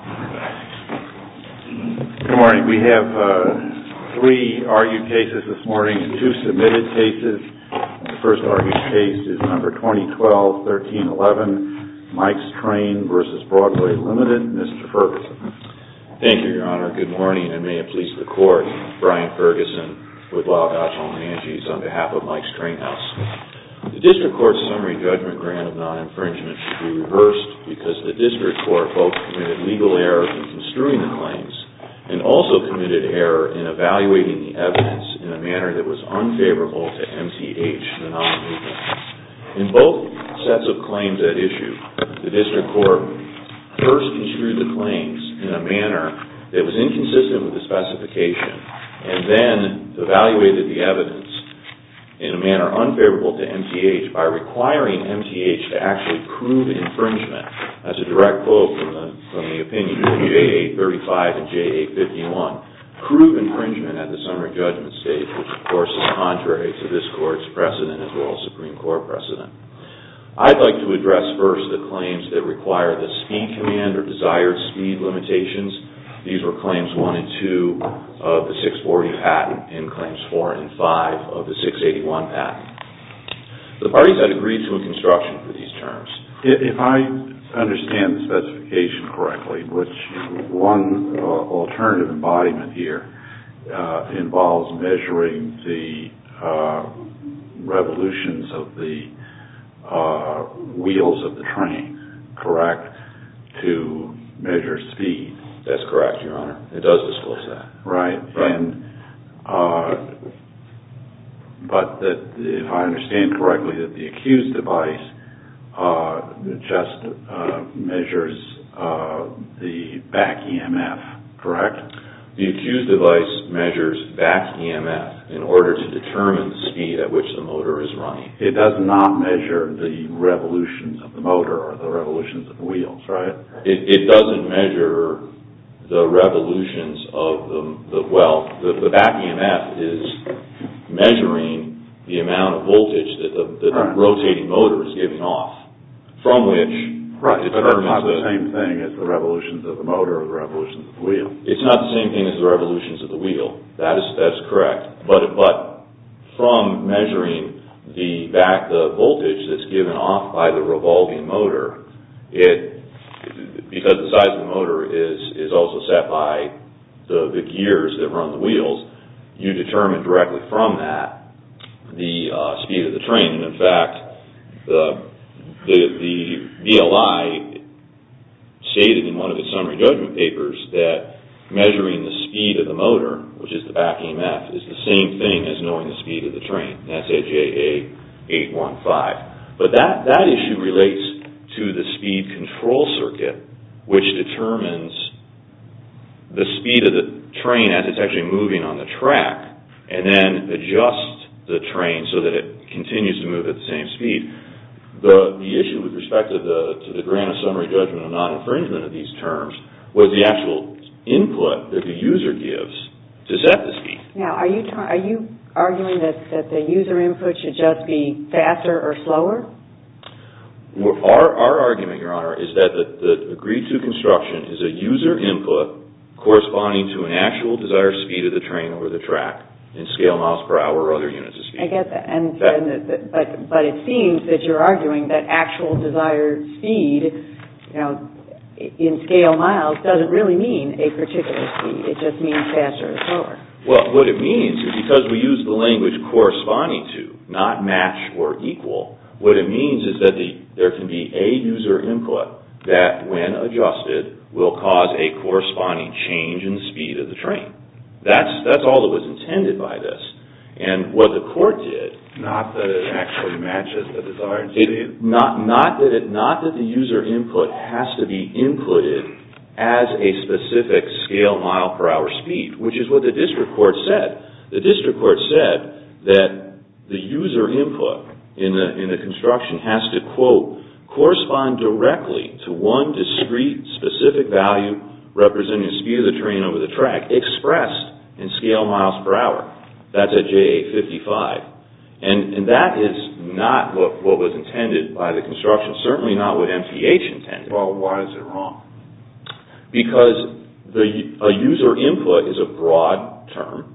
Good morning. We have three argued cases this morning and two submitted cases. The first argued case is number 2012-1311, MIKES TRAIN v. BROADWAY LTD. Mr. Ferguson. Thank you, Your Honor. Good morning, and may it please the Court. Brian Ferguson with Laudato Simone Anges on behalf of MIKES TRAIN HOUSE. The District Court's summary judgment grant of non-infringement should be reversed because the District Court both committed legal error in construing the claims and also committed error in evaluating the evidence in a manner that was unfavorable to MTH, the non-infringement. In both sets of claims at issue, the District Court first construed the claims in a manner that was inconsistent with the specification and then evaluated the evidence in a manner unfavorable to MTH by requiring MTH to actually prove infringement. That's a direct quote from the opinion of WAA-35 and JA-51. Prove infringement at the summary judgment stage, which of course is contrary to this Court's precedent as well as Supreme Court precedent. I'd like to address first the claims that require the speed command or desired speed limitations. These were claims 1 and 2 of the 640 patent and claims 4 and 5 of the 681 patent. The parties had agreed to a construction for these terms. If I understand the specification correctly, which one alternative embodiment here involves measuring the revolutions of the wheels of the train, correct to measure speed. That's correct, Your Honor. It does disclose that. Right. But if I understand correctly, the accused device just measures the back EMF, correct? The accused device measures back EMF in order to determine the speed at which the motor is running. It does not measure the revolutions of the motor or the revolutions of the wheels, right? It doesn't measure the revolutions of the – well, the back EMF is measuring the amount of voltage that the rotating motor is giving off, from which it determines the – Right, but it's not the same thing as the revolutions of the motor or the revolutions of the wheel. It's not the same thing as the revolutions of the wheel. That's correct. But from measuring the back – the voltage that's given off by the revolving motor, it – because the size of the motor is also set by the gears that run the wheels, you determine directly from that the speed of the train. In fact, the VLI stated in one of its summary judgment papers that measuring the speed of the motor, which is the back EMF, is the same thing as knowing the speed of the train. That's AJA815. But that issue relates to the speed control circuit, which determines the speed of the train as it's actually moving on the track, and then adjusts the train so that it continues to move at the same speed. The issue with respect to the grant of summary judgment of non-infringement of these terms was the actual input that the user gives to set the speed. Now, are you arguing that the user input should just be faster or slower? Our argument, Your Honor, is that the agreed-to construction is a user input corresponding to an actual desired speed of the train or the track in scale miles per hour or other units of speed. I get that. But it seems that you're arguing that actual desired speed in scale miles doesn't really mean a particular speed. It just means faster or slower. What it means is because we use the language corresponding to, not match or equal, what it means is that there can be a user input that, when adjusted, will cause a corresponding change in the speed of the train. That's all that was intended by this. And what the court did— Not that it actually matches the desired speed. Not that the user input has to be inputted as a specific scale mile per hour speed, which is what the district court said. The district court said that the user input in the construction has to, quote, to one discrete, specific value representing the speed of the train over the track, expressed in scale miles per hour. That's at JA55. And that is not what was intended by the construction. Certainly not what MPH intended. Well, why is it wrong? Because a user input is a broad term,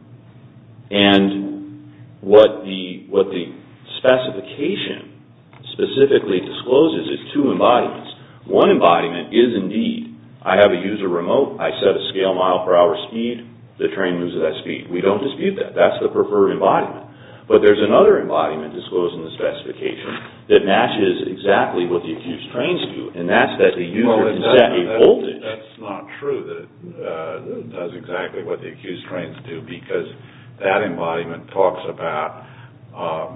and what the specification specifically discloses is two embodiments. One embodiment is, indeed, I have a user remote. I set a scale mile per hour speed. The train moves at that speed. We don't dispute that. That's the preferred embodiment. But there's another embodiment disclosed in the specification that matches exactly what the accused trains do, and that's that the user can set a voltage. That's not true that it does exactly what the accused trains do because that embodiment talks about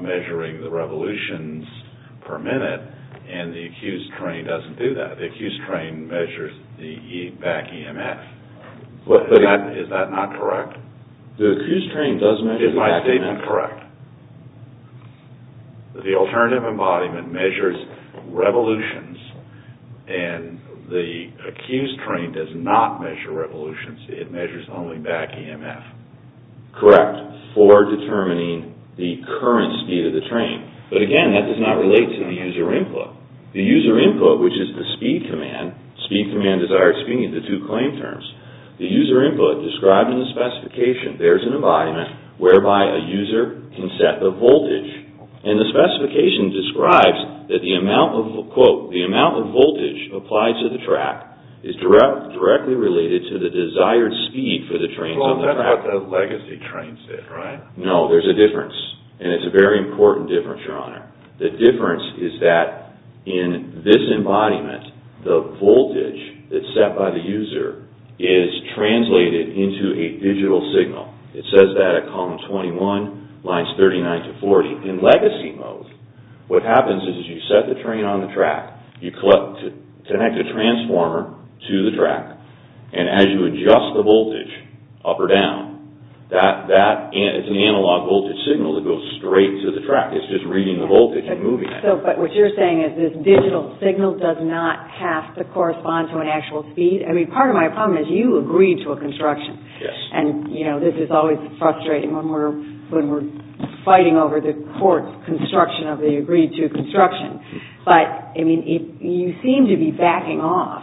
measuring the revolutions per minute, and the accused train doesn't do that. The accused train measures the back EMF. Is that not correct? The accused train does measure the back EMF. Is my statement correct? The alternative embodiment measures revolutions, and the accused train does not measure revolutions. It measures only back EMF. Correct, for determining the current speed of the train. But, again, that does not relate to the user input. The user input, which is the speed command, speed command is our experience, the two claim terms. The user input described in the specification, there's an embodiment whereby a user can set the voltage, and the specification describes that the amount of, quote, the amount of voltage applied to the track is directly related to the desired speed for the trains on the track. Well, that's what the legacy trains did, right? No, there's a difference, and it's a very important difference, Your Honor. The difference is that in this embodiment, the voltage that's set by the user is translated into a digital signal. It says that at column 21, lines 39 to 40. In legacy mode, what happens is you set the train on the track, you connect a transformer to the track, and as you adjust the voltage up or down, it's an analog voltage signal that goes straight to the track. It's just reading the voltage and moving it. But what you're saying is this digital signal does not have to correspond to an actual speed? I mean, part of my problem is you agreed to a construction, and, you know, this is always frustrating when we're fighting over the court construction of the agreed-to construction. But, I mean, you seem to be backing off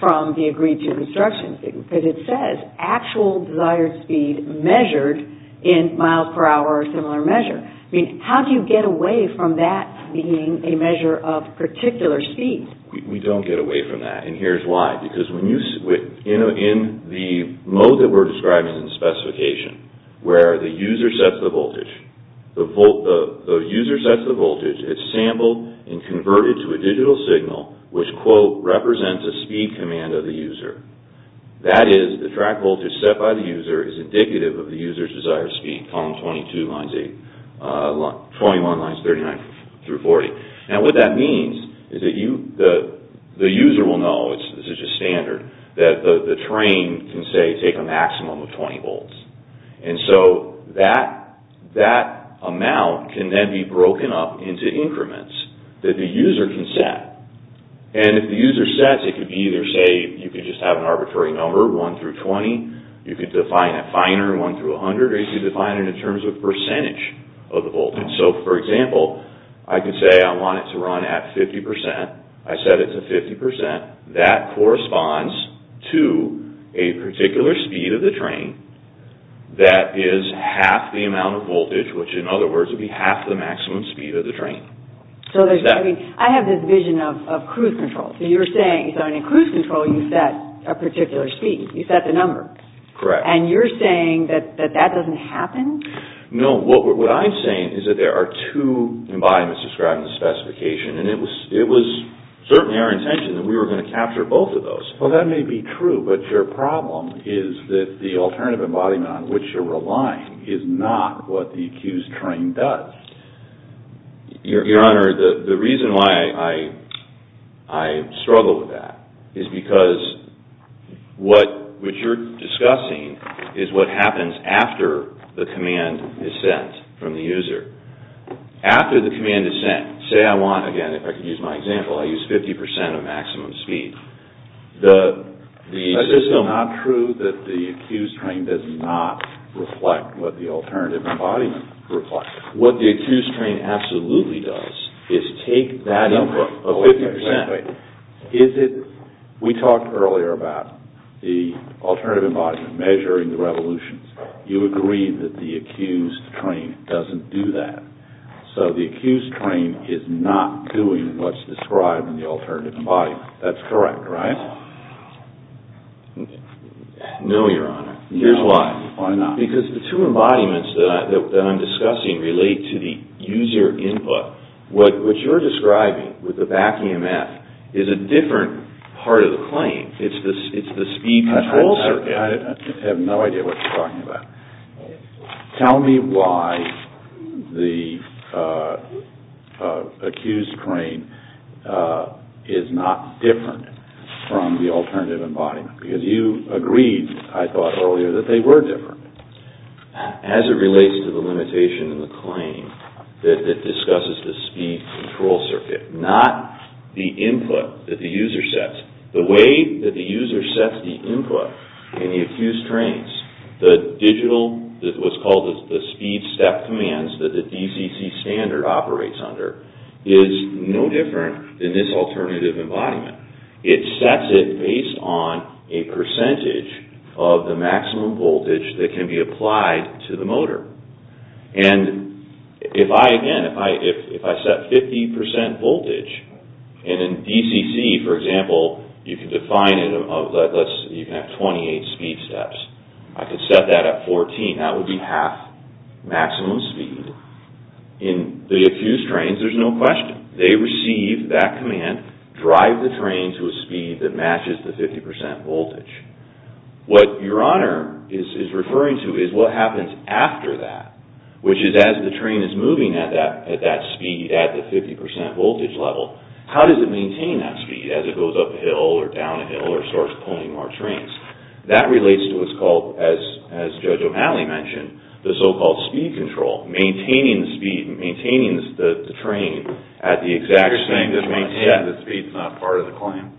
from the agreed-to construction because it says actual desired speed measured in miles per hour or similar measure. I mean, how do you get away from that being a measure of particular speed? We don't get away from that, and here's why. Because in the mode that we're describing in the specification where the user sets the voltage, it's sampled and converted to a digital signal which, quote, represents a speed command of the user. That is, the track voltage set by the user is indicative of the user's desired speed, column 22, lines 8, 21, lines 39 through 40. Now, what that means is that the user will know, this is just standard, that the train can, say, take a maximum of 20 volts. And so that amount can then be broken up into increments that the user can set. And if the user sets, it could be either, say, you could just have an arbitrary number, 1 through 20, you could define a finer, 1 through 100, or you could define it in terms of percentage of the voltage. So, for example, I could say I want it to run at 50%. I set it to 50%. That corresponds to a particular speed of the train that is half the amount of voltage, which, in other words, would be half the maximum speed of the train. I have this vision of cruise control. So you're saying, in cruise control, you set a particular speed. You set the number. Correct. And you're saying that that doesn't happen? No. What I'm saying is that there are two embodiments described in the specification, and it was certainly our intention that we were going to capture both of those. Well, that may be true, but your problem is that the alternative embodiment on which you're relying is not what the accused train does. Your Honor, the reason why I struggle with that is because what you're discussing is what happens after the command is sent from the user. After the command is sent, say I want, again, if I could use my example, I use 50% of maximum speed. That's just not true that the accused train does not reflect what the alternative embodiment reflects. What the accused train absolutely does is take that number of 50%. We talked earlier about the alternative embodiment measuring the revolutions. You agree that the accused train doesn't do that. So the accused train is not doing what's described in the alternative embodiment. That's correct, right? No, Your Honor. Here's why. Why not? Because the two embodiments that I'm discussing relate to the user input. What you're describing with the back EMF is a different part of the claim. It's the speed control circuit. I have no idea what you're talking about. Tell me why the accused train is not different from the alternative embodiment, because you agreed, I thought earlier, that they were different. As it relates to the limitation in the claim that discusses the speed control circuit, not the input that the user sets. The way that the user sets the input in the accused trains, the digital, what's called the speed step commands that the DCC standard operates under, is no different than this alternative embodiment. It sets it based on a percentage of the maximum voltage that can be applied to the motor. And if I, again, if I set 50% voltage, and in DCC, for example, you can define it, you can have 28 speed steps. I could set that at 14. That would be half maximum speed. In the accused trains, there's no question. They receive that command, drive the train to a speed that matches the 50% voltage. What Your Honor is referring to is what happens after that, which is as the train is moving at that speed, at the 50% voltage level, how does it maintain that speed as it goes uphill or downhill or starts pulling more trains? That relates to what's called, as Judge O'Malley mentioned, the so-called speed control. Maintaining the speed, maintaining the train at the exact speed. So you're saying that maintaining the speed is not part of the claim?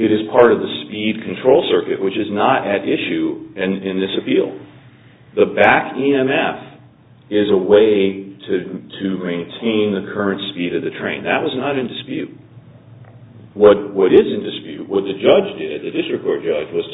It is part of the speed control circuit, which is not at issue in this appeal. The back EMF is a way to maintain the current speed of the train. That was not in dispute. What is in dispute, what the judge did, the district court judge, was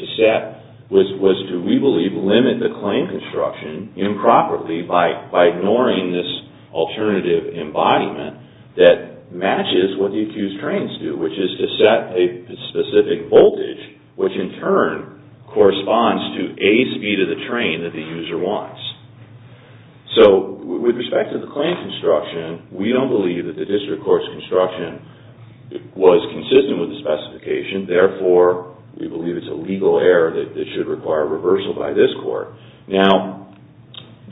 to, we believe, limit the claim construction improperly by ignoring this alternative embodiment that matches what the accused trains do, which is to set a specific voltage, which in turn corresponds to a speed of the train that the user wants. So with respect to the claim construction, we don't believe that the district court's construction was consistent with the specification. Therefore, we believe it's a legal error that should require reversal by this court. Now,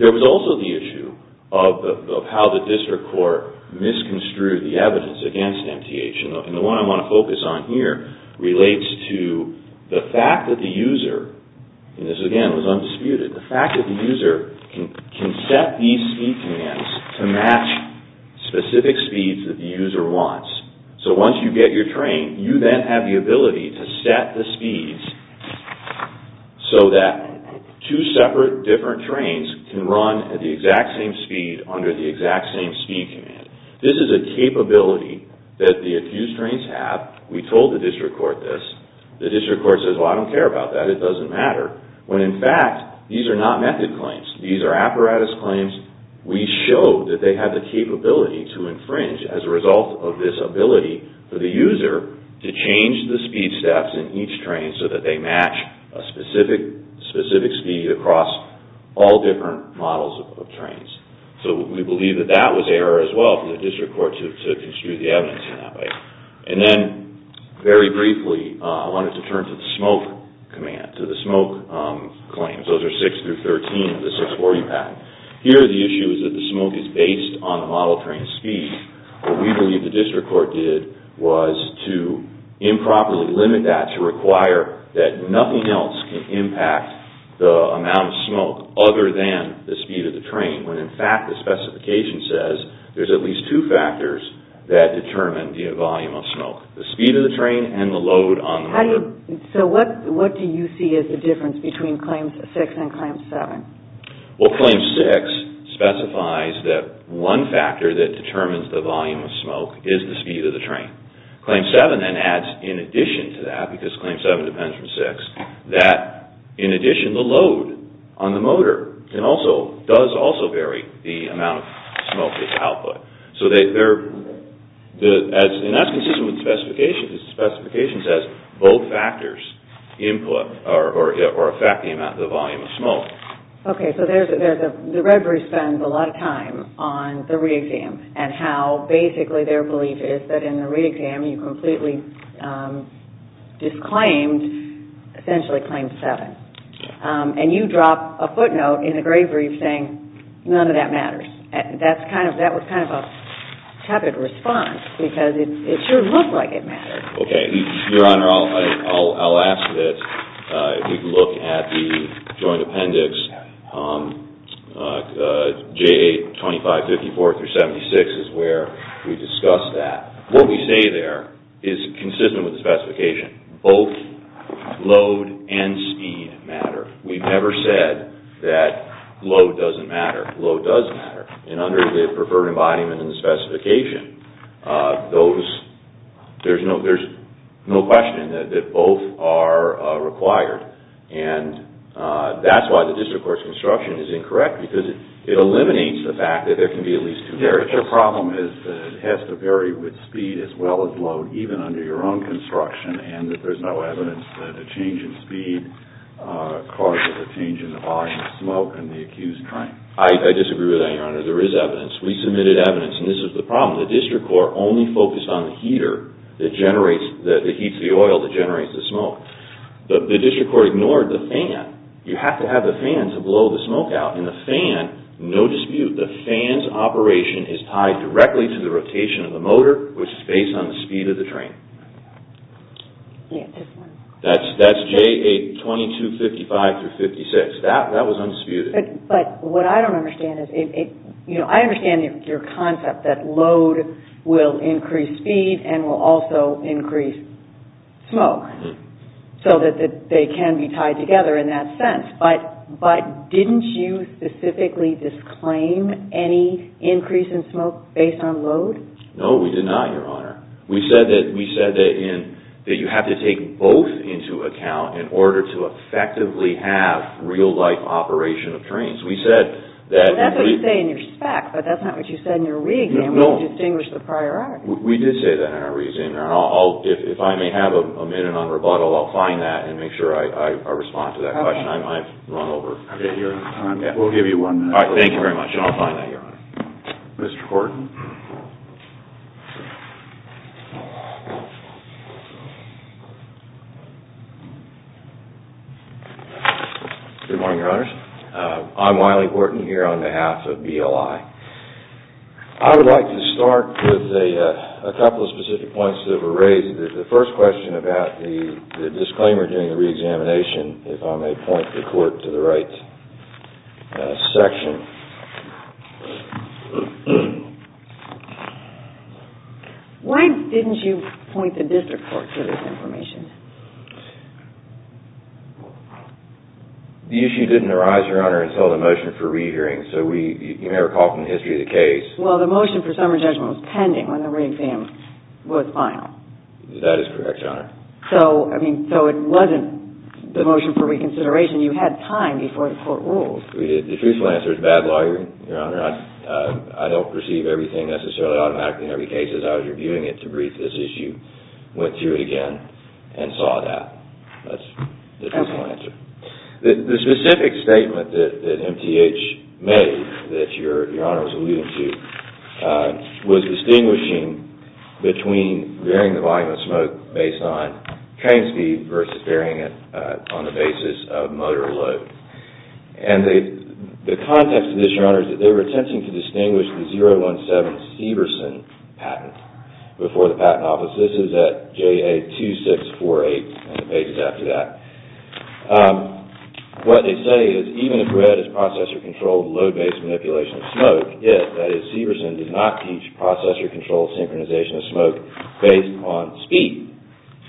there was also the issue of how the district court misconstrued the evidence against MTH. The one I want to focus on here relates to the fact that the user, and this again was undisputed, the fact that the user can set these speed demands to match specific speeds that the user wants. So once you get your train, you then have the ability to set the speeds so that two separate different trains can run at the exact same speed under the exact same speed command. This is a capability that the accused trains have. We told the district court this. The district court says, well, I don't care about that. It doesn't matter. When in fact, these are not method claims. These are apparatus claims. We showed that they have the capability to infringe as a result of this ability for the user to change the speed steps in each train so that they match a specific speed across all different models of trains. So we believe that that was error as well for the district court to construe the evidence in that way. And then, very briefly, I wanted to turn to the smoke command, to the smoke claims. Those are 6 through 13 of the 640 pact. Here, the issue is that the smoke is based on the model train speed. What we believe the district court did was to improperly limit that, to require that nothing else can impact the amount of smoke other than the speed of the train. When in fact, the specification says there's at least two factors that determine the volume of smoke, the speed of the train and the load on the motor. So what do you see as the difference between Claim 6 and Claim 7? Well, Claim 6 specifies that one factor that determines the volume of smoke is the speed of the train. Claim 7 then adds in addition to that, because Claim 7 depends from 6, that in addition, the load on the motor does also vary the amount of smoke that's output. And that's consistent with the specification. The specification says both factors input or affect the amount of the volume of smoke. Okay, so the red brief spends a lot of time on the re-exam and how basically their belief is that in the re-exam you completely disclaimed essentially Claim 7. And you drop a footnote in the gray brief saying none of that matters. That was kind of a tepid response because it sure looked like it mattered. Okay, Your Honor, I'll ask that we look at the joint appendix J8-2554-76 is where we discussed that. What we say there is consistent with the specification. Both load and speed matter. We've never said that load doesn't matter. Load does matter. And under the preferred embodiment and the specification, there's no question that both are required. And that's why the district court's construction is incorrect because it eliminates the fact that there can be at least two marriages. Your problem is that it has to vary with speed as well as load even under your own construction and that there's no evidence that the change in speed causes a change in the volume of smoke in the accused train. I disagree with that, Your Honor. There is evidence. We submitted evidence and this is the problem. The district court only focused on the heater that heats the oil that generates the smoke. The district court ignored the fan. You have to have the fan to blow the smoke out. And the fan, no dispute, the fan's operation is tied directly to the rotation of the motor which is based on the speed of the train. That's J8-2255-56. That was undisputed. But what I don't understand is, you know, I understand your concept that load will increase speed and will also increase smoke so that they can be tied together in that sense. But didn't you specifically disclaim any increase in smoke based on load? No, we did not, Your Honor. We said that you have to take both into account in order to effectively have real-life operation of trains. That's what you say in your spec, but that's not what you said in your re-exam. We didn't distinguish the prior art. We did say that in our re-exam. If I may have a minute on rebuttal, I'll find that and make sure I respond to that question. I might have run over. We'll give you one minute. Thank you very much. I'll find that, Your Honor. Mr. Korten. Good morning, Your Honors. I'm Wiley Korten here on behalf of BLI. I would like to start with a couple of specific points that were raised. The first question about the disclaimer during the re-examination, if I may point the Court to the right section. Why didn't you point the District Court to this information? The issue didn't arise, Your Honor, until the motion for re-hearing, so you may recall from the history of the case. Well, the motion for summary judgment was pending when the re-exam was final. That is correct, Your Honor. So it wasn't the motion for reconsideration. You had time before the Court ruled. We did. The truthful answer is bad law, Your Honor. I don't perceive everything necessarily automatically in every case. As I was reviewing it to brief this issue, went through it again, and saw that. That's the truthful answer. The specific statement that MTH made that Your Honor was alluding to was distinguishing between varying the volume of smoke based on train speed versus varying it on the basis of motor load. And the context of this, Your Honor, is that they were attempting to distinguish the 017 Steverson patent before the Patent Office. This is at JA 2648 and the pages after that. What they say is, even if read as processor-controlled load-based manipulation of smoke, yet that is, Steverson did not teach processor-controlled synchronization of smoke based on speed.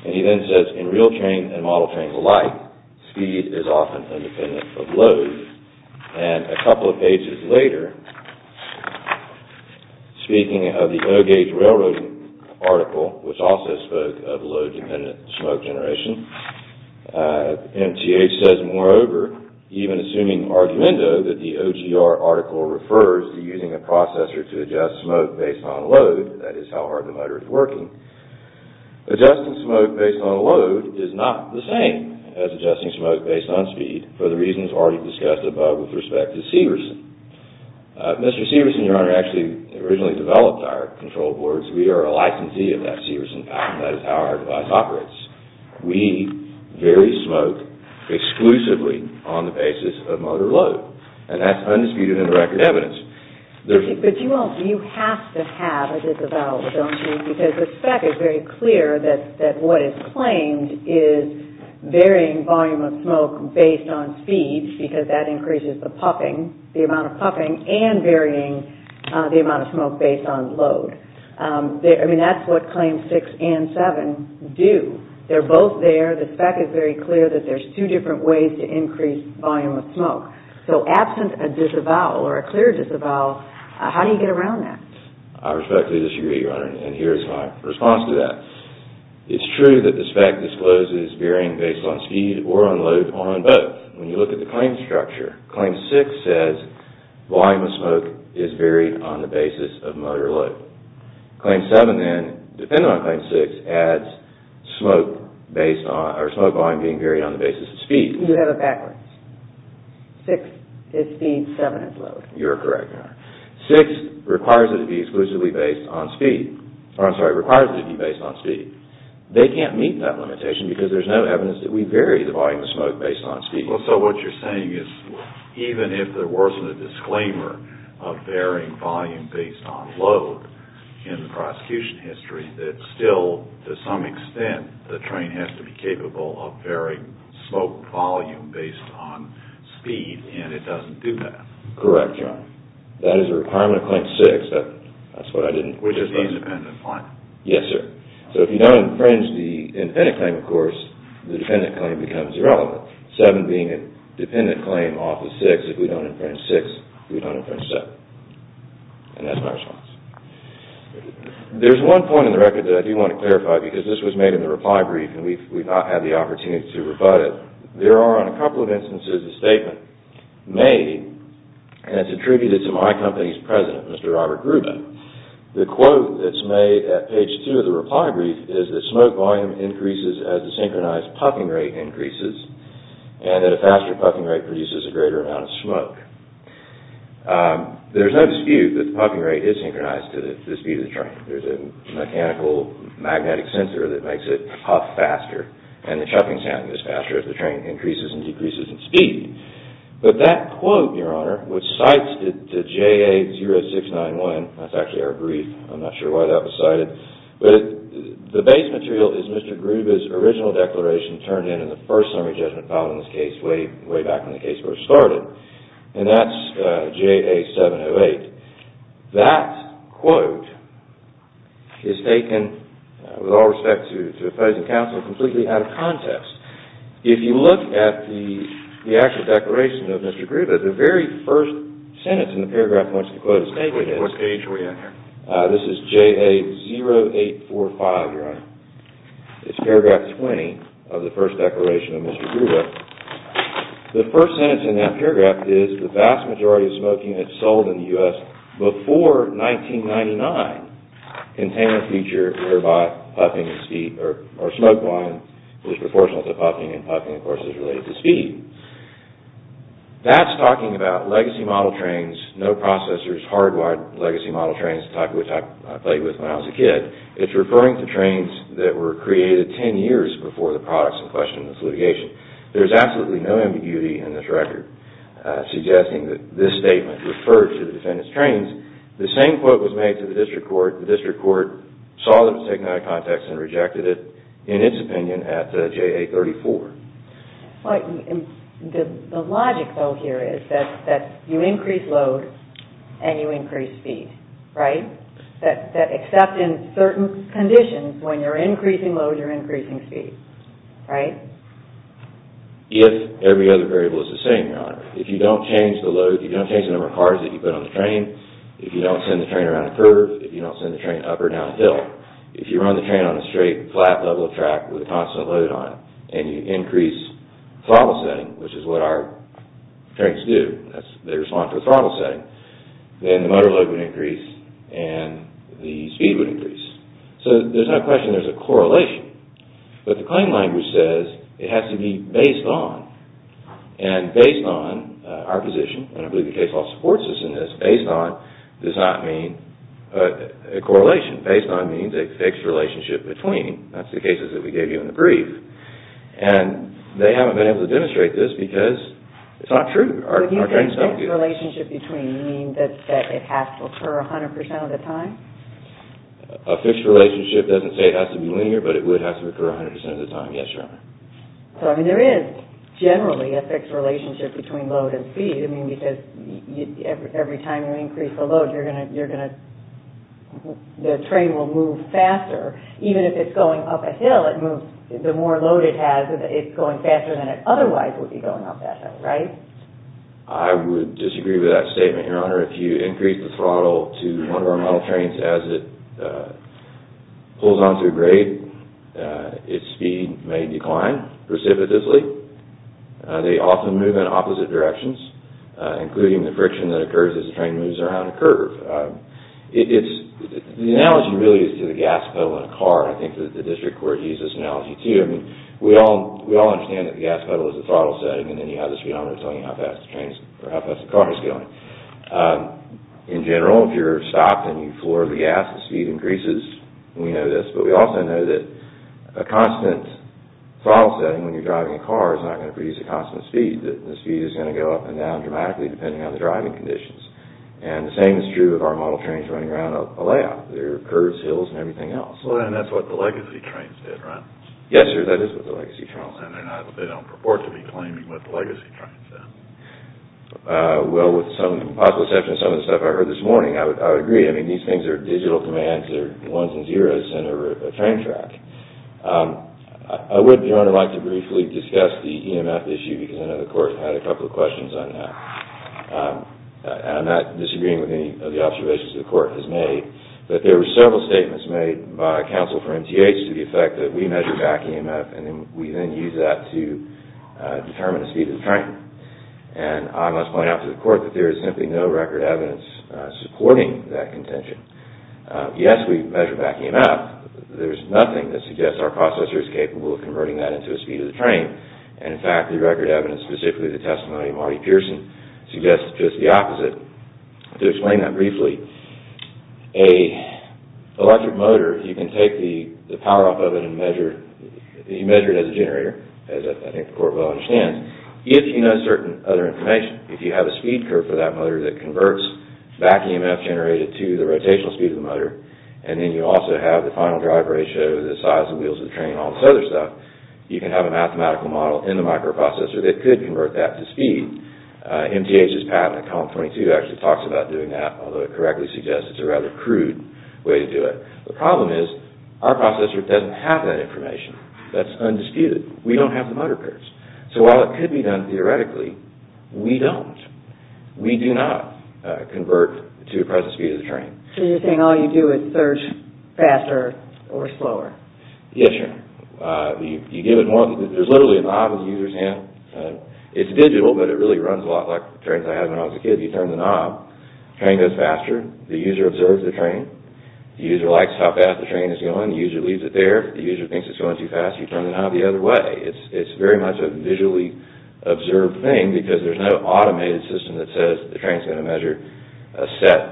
And he then says, in real train and model trains alike, speed is often independent of load. And a couple of pages later, speaking of the O-Gauge Railroad article, which also spoke of load-dependent smoke generation, MTH says, moreover, even assuming argumento that the OGR article refers to using a processor to adjust smoke based on load, that is how hard the motor is working, adjusting smoke based on load is not the same as adjusting smoke based on speed for the reasons already discussed above with respect to Steverson. Mr. Steverson, Your Honor, actually originally developed our control boards. We are a licensee of that Steverson patent. That is how our device operates. We vary smoke exclusively on the basis of motor load. And that's undisputed and record evidence. But you have to have a disavowal, because the fact is very clear that what is claimed is varying volume of smoke based on speed, because that increases the puffing, the amount of puffing, and varying the amount of smoke based on load. I mean, that's what Claims 6 and 7 do. They're both there. The fact is very clear that there's two different ways to increase volume of smoke. So, absent a disavowal or a clear disavowal, how do you get around that? I respectfully disagree, Your Honor, and here is my response to that. It's true that this fact discloses varying based on speed or on load on both. When you look at the claim structure, Claim 6 says volume of smoke is varied on the basis of motor load. Claim 7 then, depending on Claim 6, adds smoke based on, or smoke volume being varied on the basis of speed. You have it backwards. 6 is speed, 7 is load. You're correct, Your Honor. 6 requires it to be exclusively based on speed. I'm sorry, requires it to be based on speed. They can't meet that limitation because there's no evidence that we vary the volume of smoke based on speed. So, what you're saying is, even if there wasn't a disclaimer of varying volume based on load in the prosecution history, that still, to some extent, the train has to be capable of varying smoke volume based on speed, and it doesn't do that. Correct, Your Honor. That is a requirement of Claim 6. Which is the independent claim. Yes, sir. So, if you don't infringe the independent claim, of course, the dependent claim becomes irrelevant. 7 being a dependent claim off of 6, if we don't infringe 6, we don't infringe 7. And that's my response. There's one point in the record that I do want to clarify, because this was made in the reply brief, and we've not had the opportunity to rebut it. There are, in a couple of instances, a statement made, and it's attributed to my company's president, Mr. Robert Grube. The quote that's made at page 2 of the reply brief is that smoke volume increases as the synchronized puffing rate increases, and that a faster puffing rate produces a greater amount of smoke. There's no dispute that the puffing rate is synchronized to the speed of the train. There's a mechanical magnetic sensor that makes it puff faster, and the chuffing sound is faster if the train increases and decreases in speed. But that quote, Your Honor, which cites the JA-0691, that's actually our brief. I'm not sure why that was cited. But the base material is Mr. Grube's original declaration turned in in the first summary judgment file in this case, way back in the case where it started, and that's JA-708. That quote is taken, with all respect to the opposing counsel, completely out of context. If you look at the actual declaration of Mr. Grube, the very first sentence in the paragraph once the quote is taken is, this is JA-0845, Your Honor. It's paragraph 20 of the first declaration of Mr. Grube. The first sentence in that paragraph is, the vast majority of smoke units sold in the U.S. before 1999 contain a feature whereby puffing or smoke volume is proportional to puffing, and puffing, of course, is related to speed. That's talking about legacy model trains, no processors, hardwired legacy model trains, the type of which I played with when I was a kid. It's referring to trains that were created ten years before the products in question in this litigation. There's absolutely no ambiguity in this record suggesting that this statement referred to the defendant's trains. The same quote was made to the district court. The district court saw them to take them out of context and rejected it, in its opinion, at JA-34. The logic, though, here is that you increase load and you increase speed, right? Except in certain conditions, when you're increasing load, you're increasing speed, right? If every other variable is the same, Your Honor. If you don't change the load, if you don't change the number of cars that you put on the train, if you don't send the train around a curve, if you don't send the train up or down a hill, if you run the train on a straight, flat level track with a constant load on it, and you increase throttle setting, which is what our trains do, they respond to a throttle setting, then the motor load would increase and the speed would increase. So there's no question there's a correlation. But the claim language says it has to be based on, and based on our position, and I believe the case law supports this in this, based on does not mean a correlation. Based on means a fixed relationship between. That's the cases that we gave you in the brief. And they haven't been able to demonstrate this because it's not true. Our trains don't do that. But do you think fixed relationship between means that it has to occur 100% of the time? A fixed relationship doesn't say it has to be linear, but it would have to occur 100% of the time. Yes, Your Honor. So, I mean, there is generally a fixed relationship between load and speed. I mean, because every time you increase the load, the train will move faster. Even if it's going up a hill, the more load it has, it's going faster than it otherwise would be going up that hill. Right? I would disagree with that statement, Your Honor. If you increase the throttle to one of our model trains as it pulls onto a grade, its speed may decline precipitously. They often move in opposite directions, including the friction that occurs as the train moves around a curve. The analogy really is to the gas pedal in a car. I think the district court used this analogy, too. We all understand that the gas pedal is the throttle setting and any other speedometer telling you how fast the car is going. In general, if you're stopped and you floor the gas, the speed increases. We know this. But we also know that a constant throttle setting when you're driving a car is not going to produce a constant speed. The speed is going to go up and down dramatically depending on the driving conditions. The same is true of our model trains running around a layout. There are curves, hills, and everything else. That's what the legacy trains did, right? Yes, sir, that is what the legacy trains did. They don't purport to be claiming what the legacy trains did. Well, with some possible exception to some of the stuff I heard this morning, I would agree. These things are digital commands. They're ones and zeros in a train track. I would, Your Honor, like to briefly discuss the EMF issue because I know the Court had a couple of questions on that. I'm not disagreeing with any of the observations the Court has made, but there were several statements made by counsel for MTH to the effect that we measure back EMF and we then use that to determine the speed of the train. I must point out to the Court that there is simply no record evidence supporting that contention. Yes, we measure back EMF. There's nothing that suggests our processor is capable of converting that into a speed of the train. And, in fact, the record evidence, specifically the testimony of Marty Pearson, suggests just the opposite. To explain that briefly, an electric motor, you can take the power off of it and measure it as a generator, as I think the Court well understands, if you know certain other information. If you have a speed curve for that motor that converts back EMF generated to the rotational speed of the motor and then you also have the final drive ratio, the size of the wheels of the train, all this other stuff, you can have a mathematical model in the microprocessor that could convert that to speed. MTH's patent, Column 22, actually talks about doing that, although it correctly suggests it's a rather crude way to do it. The problem is our processor doesn't have that information. That's undisputed. We don't have the motor curves. So while it could be done theoretically, we don't. We do not convert to the present speed of the train. So you're saying all you do is search faster or slower? Yes, Your Honor. There's literally a knob in the user's hand. It's digital, but it really runs a lot like the trains I had when I was a kid. You turn the knob, the train goes faster, the user observes the train. The user likes how fast the train is going. The user leaves it there. If the user thinks it's going too fast, you turn the knob the other way. It's very much a visually observed thing because there's no automated system that says the train's going to measure a set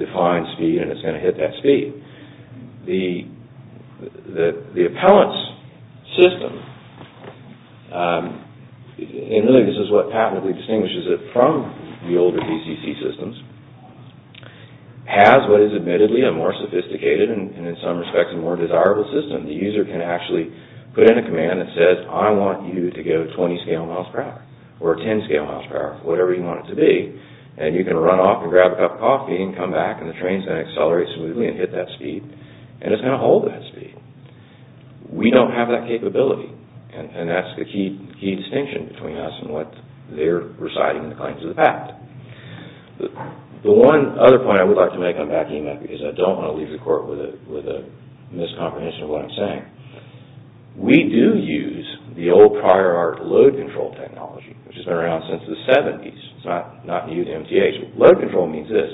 defined speed and it's going to hit that speed. The appellant's system, and really this is what patently distinguishes it from the older DCC systems, has what is admittedly a more sophisticated and in some respects a more desirable system. The user can actually put in a command that says I want you to go 20 scale miles per hour or 10 scale miles per hour, whatever you want it to be, and you can run off and grab a cup of coffee and come back and the train's going to accelerate smoothly and hit that speed and it's going to hold that speed. We don't have that capability and that's the key distinction between us and what they're reciting in the claims of the fact. The one other point I would like to make on backing up is I don't want to leave the court with a miscomprehension of what I'm saying. We do use the old prior art load control technology which has been around since the 70s. It's not new to MTAs. Load control means this.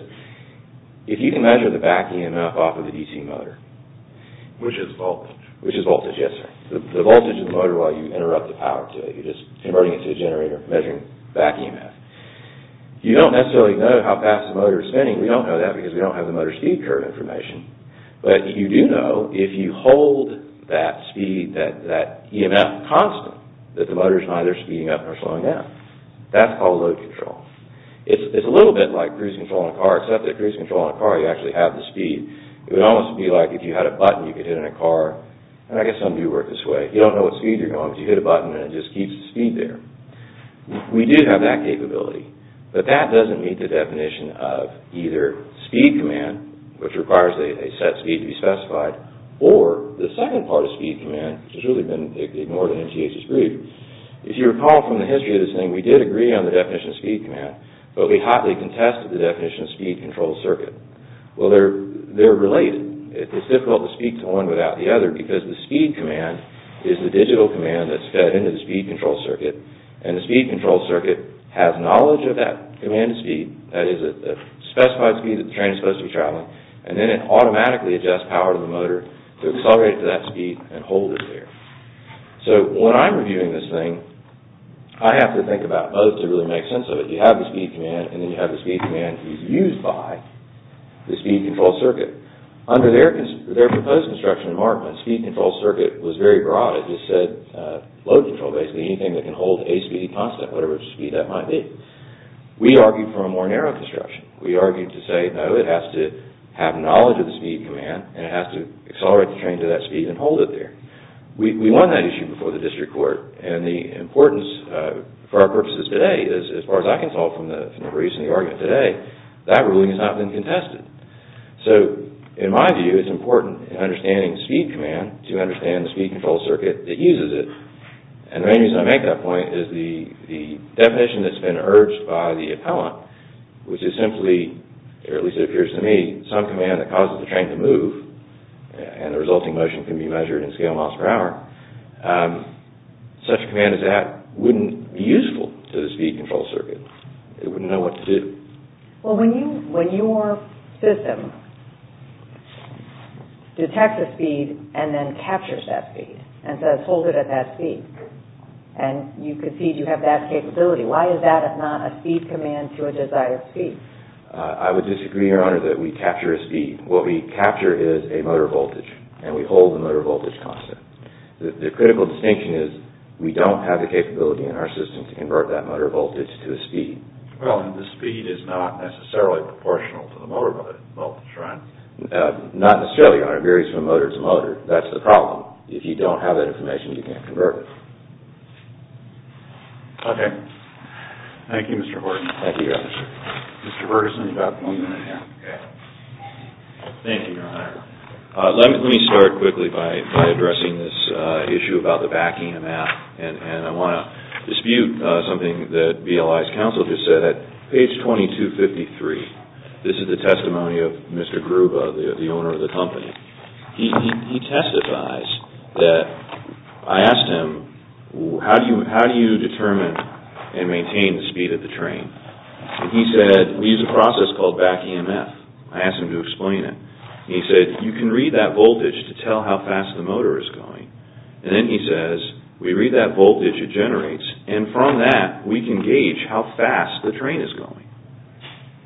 If you can measure the back EMF off of the DC motor, which is voltage, the voltage of the motor while you interrupt the power today, you're just converting it to a generator, measuring back EMF. You don't necessarily know how fast the motor is spinning. We don't know that because we don't have the motor speed curve information, but you do know if you hold that speed, that EMF constant, that the motor's neither speeding up nor slowing down. That's called load control. It's a little bit like cruise control in a car, except that cruise control in a car you actually have the speed. It would almost be like if you had a button you could hit in a car. I guess some do work this way. You don't know what speed you're going, but you hit a button and it just keeps the speed there. We do have that capability, but that doesn't meet the definition of either speed command, which requires a set speed to be specified, or the second part of speed command, which has really been ignored in MTAs' brief. If you recall from the history of this thing, we did agree on the definition of speed command, but we hotly contested the definition of speed control circuit. Well, they're related. It's difficult to speak to one without the other because the speed command is the digital command that's fed into the speed control circuit, and the speed control circuit has knowledge of that command speed, that is a specified speed that the train is supposed to be traveling, and then it automatically adjusts power to the motor to accelerate to that speed and hold it there. So when I'm reviewing this thing, I have to think about both to really make sense of it. You have the speed command, and then you have the speed command used by the speed control circuit. Under their proposed construction in Markham, speed control circuit was very broad. It just said load control, basically anything that can hold a speed constant, whatever speed that might be. We argued for a more narrow construction. We argued to say, no, it has to have knowledge of the speed command, and it has to accelerate the train to that speed and hold it there. We won that issue before the district court, and the importance for our purposes today, as far as I can tell from the reasoning of the argument today, that ruling has not been contested. So in my view, it's important in understanding speed command to understand the speed control circuit that uses it. And the main reason I make that point is the definition that's been urged by the appellant, which is simply, or at least it appears to me, some command that causes the train to move and the resulting motion can be measured in scale miles per hour. Such a command as that wouldn't be useful to the speed control circuit. It wouldn't know what to do. Well, when your system detects a speed and then captures that speed and says, hold it at that speed, and you concede you have that capability, why is that if not a speed command to a desired speed? I would disagree, Your Honor, that we capture a speed. What we capture is a motor voltage, and we hold the motor voltage constant. The critical distinction is we don't have the capability in our system to convert that motor voltage to a speed. Well, and the speed is not necessarily proportional to the motor voltage, right? Not necessarily, Your Honor. It varies from motor to motor. That's the problem. If you don't have that information, you can't convert it. Okay. Thank you, Mr. Horton. Thank you, Your Honor. Mr. Ferguson, you've got one minute left. Okay. Thank you, Your Honor. Let me start quickly by addressing this issue about the BAC-EMF, and I want to dispute something that BLI's counsel just said. At page 2253, this is the testimony of Mr. Gruba, the owner of the company. He testifies that I asked him, how do you determine and maintain the speed of the train? And he said, we use a process called BAC-EMF. I asked him to explain it. He said, you can read that voltage to tell how fast the motor is going. And then he says, we read that voltage it generates, and from that, we can gauge how fast the train is going.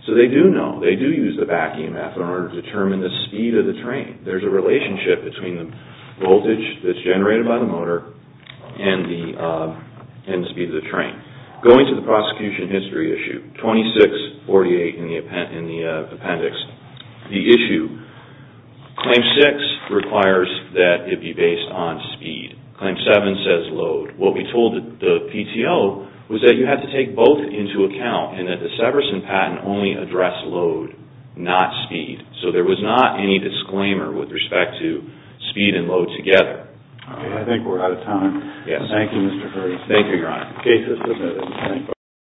So they do know, they do use the BAC-EMF in order to determine the speed of the train. There's a relationship between the voltage that's generated by the motor and the speed of the train. Going to the prosecution history issue, 2648 in the appendix, the issue, claim six requires that it be based on speed. Claim seven says load. What we told the PTO was that you have to take both into account and that the Severson patent only addressed load, not speed. So there was not any disclaimer with respect to speed and load together. I think we're out of time. Thank you, Mr. Curtis. Thank you, Your Honor.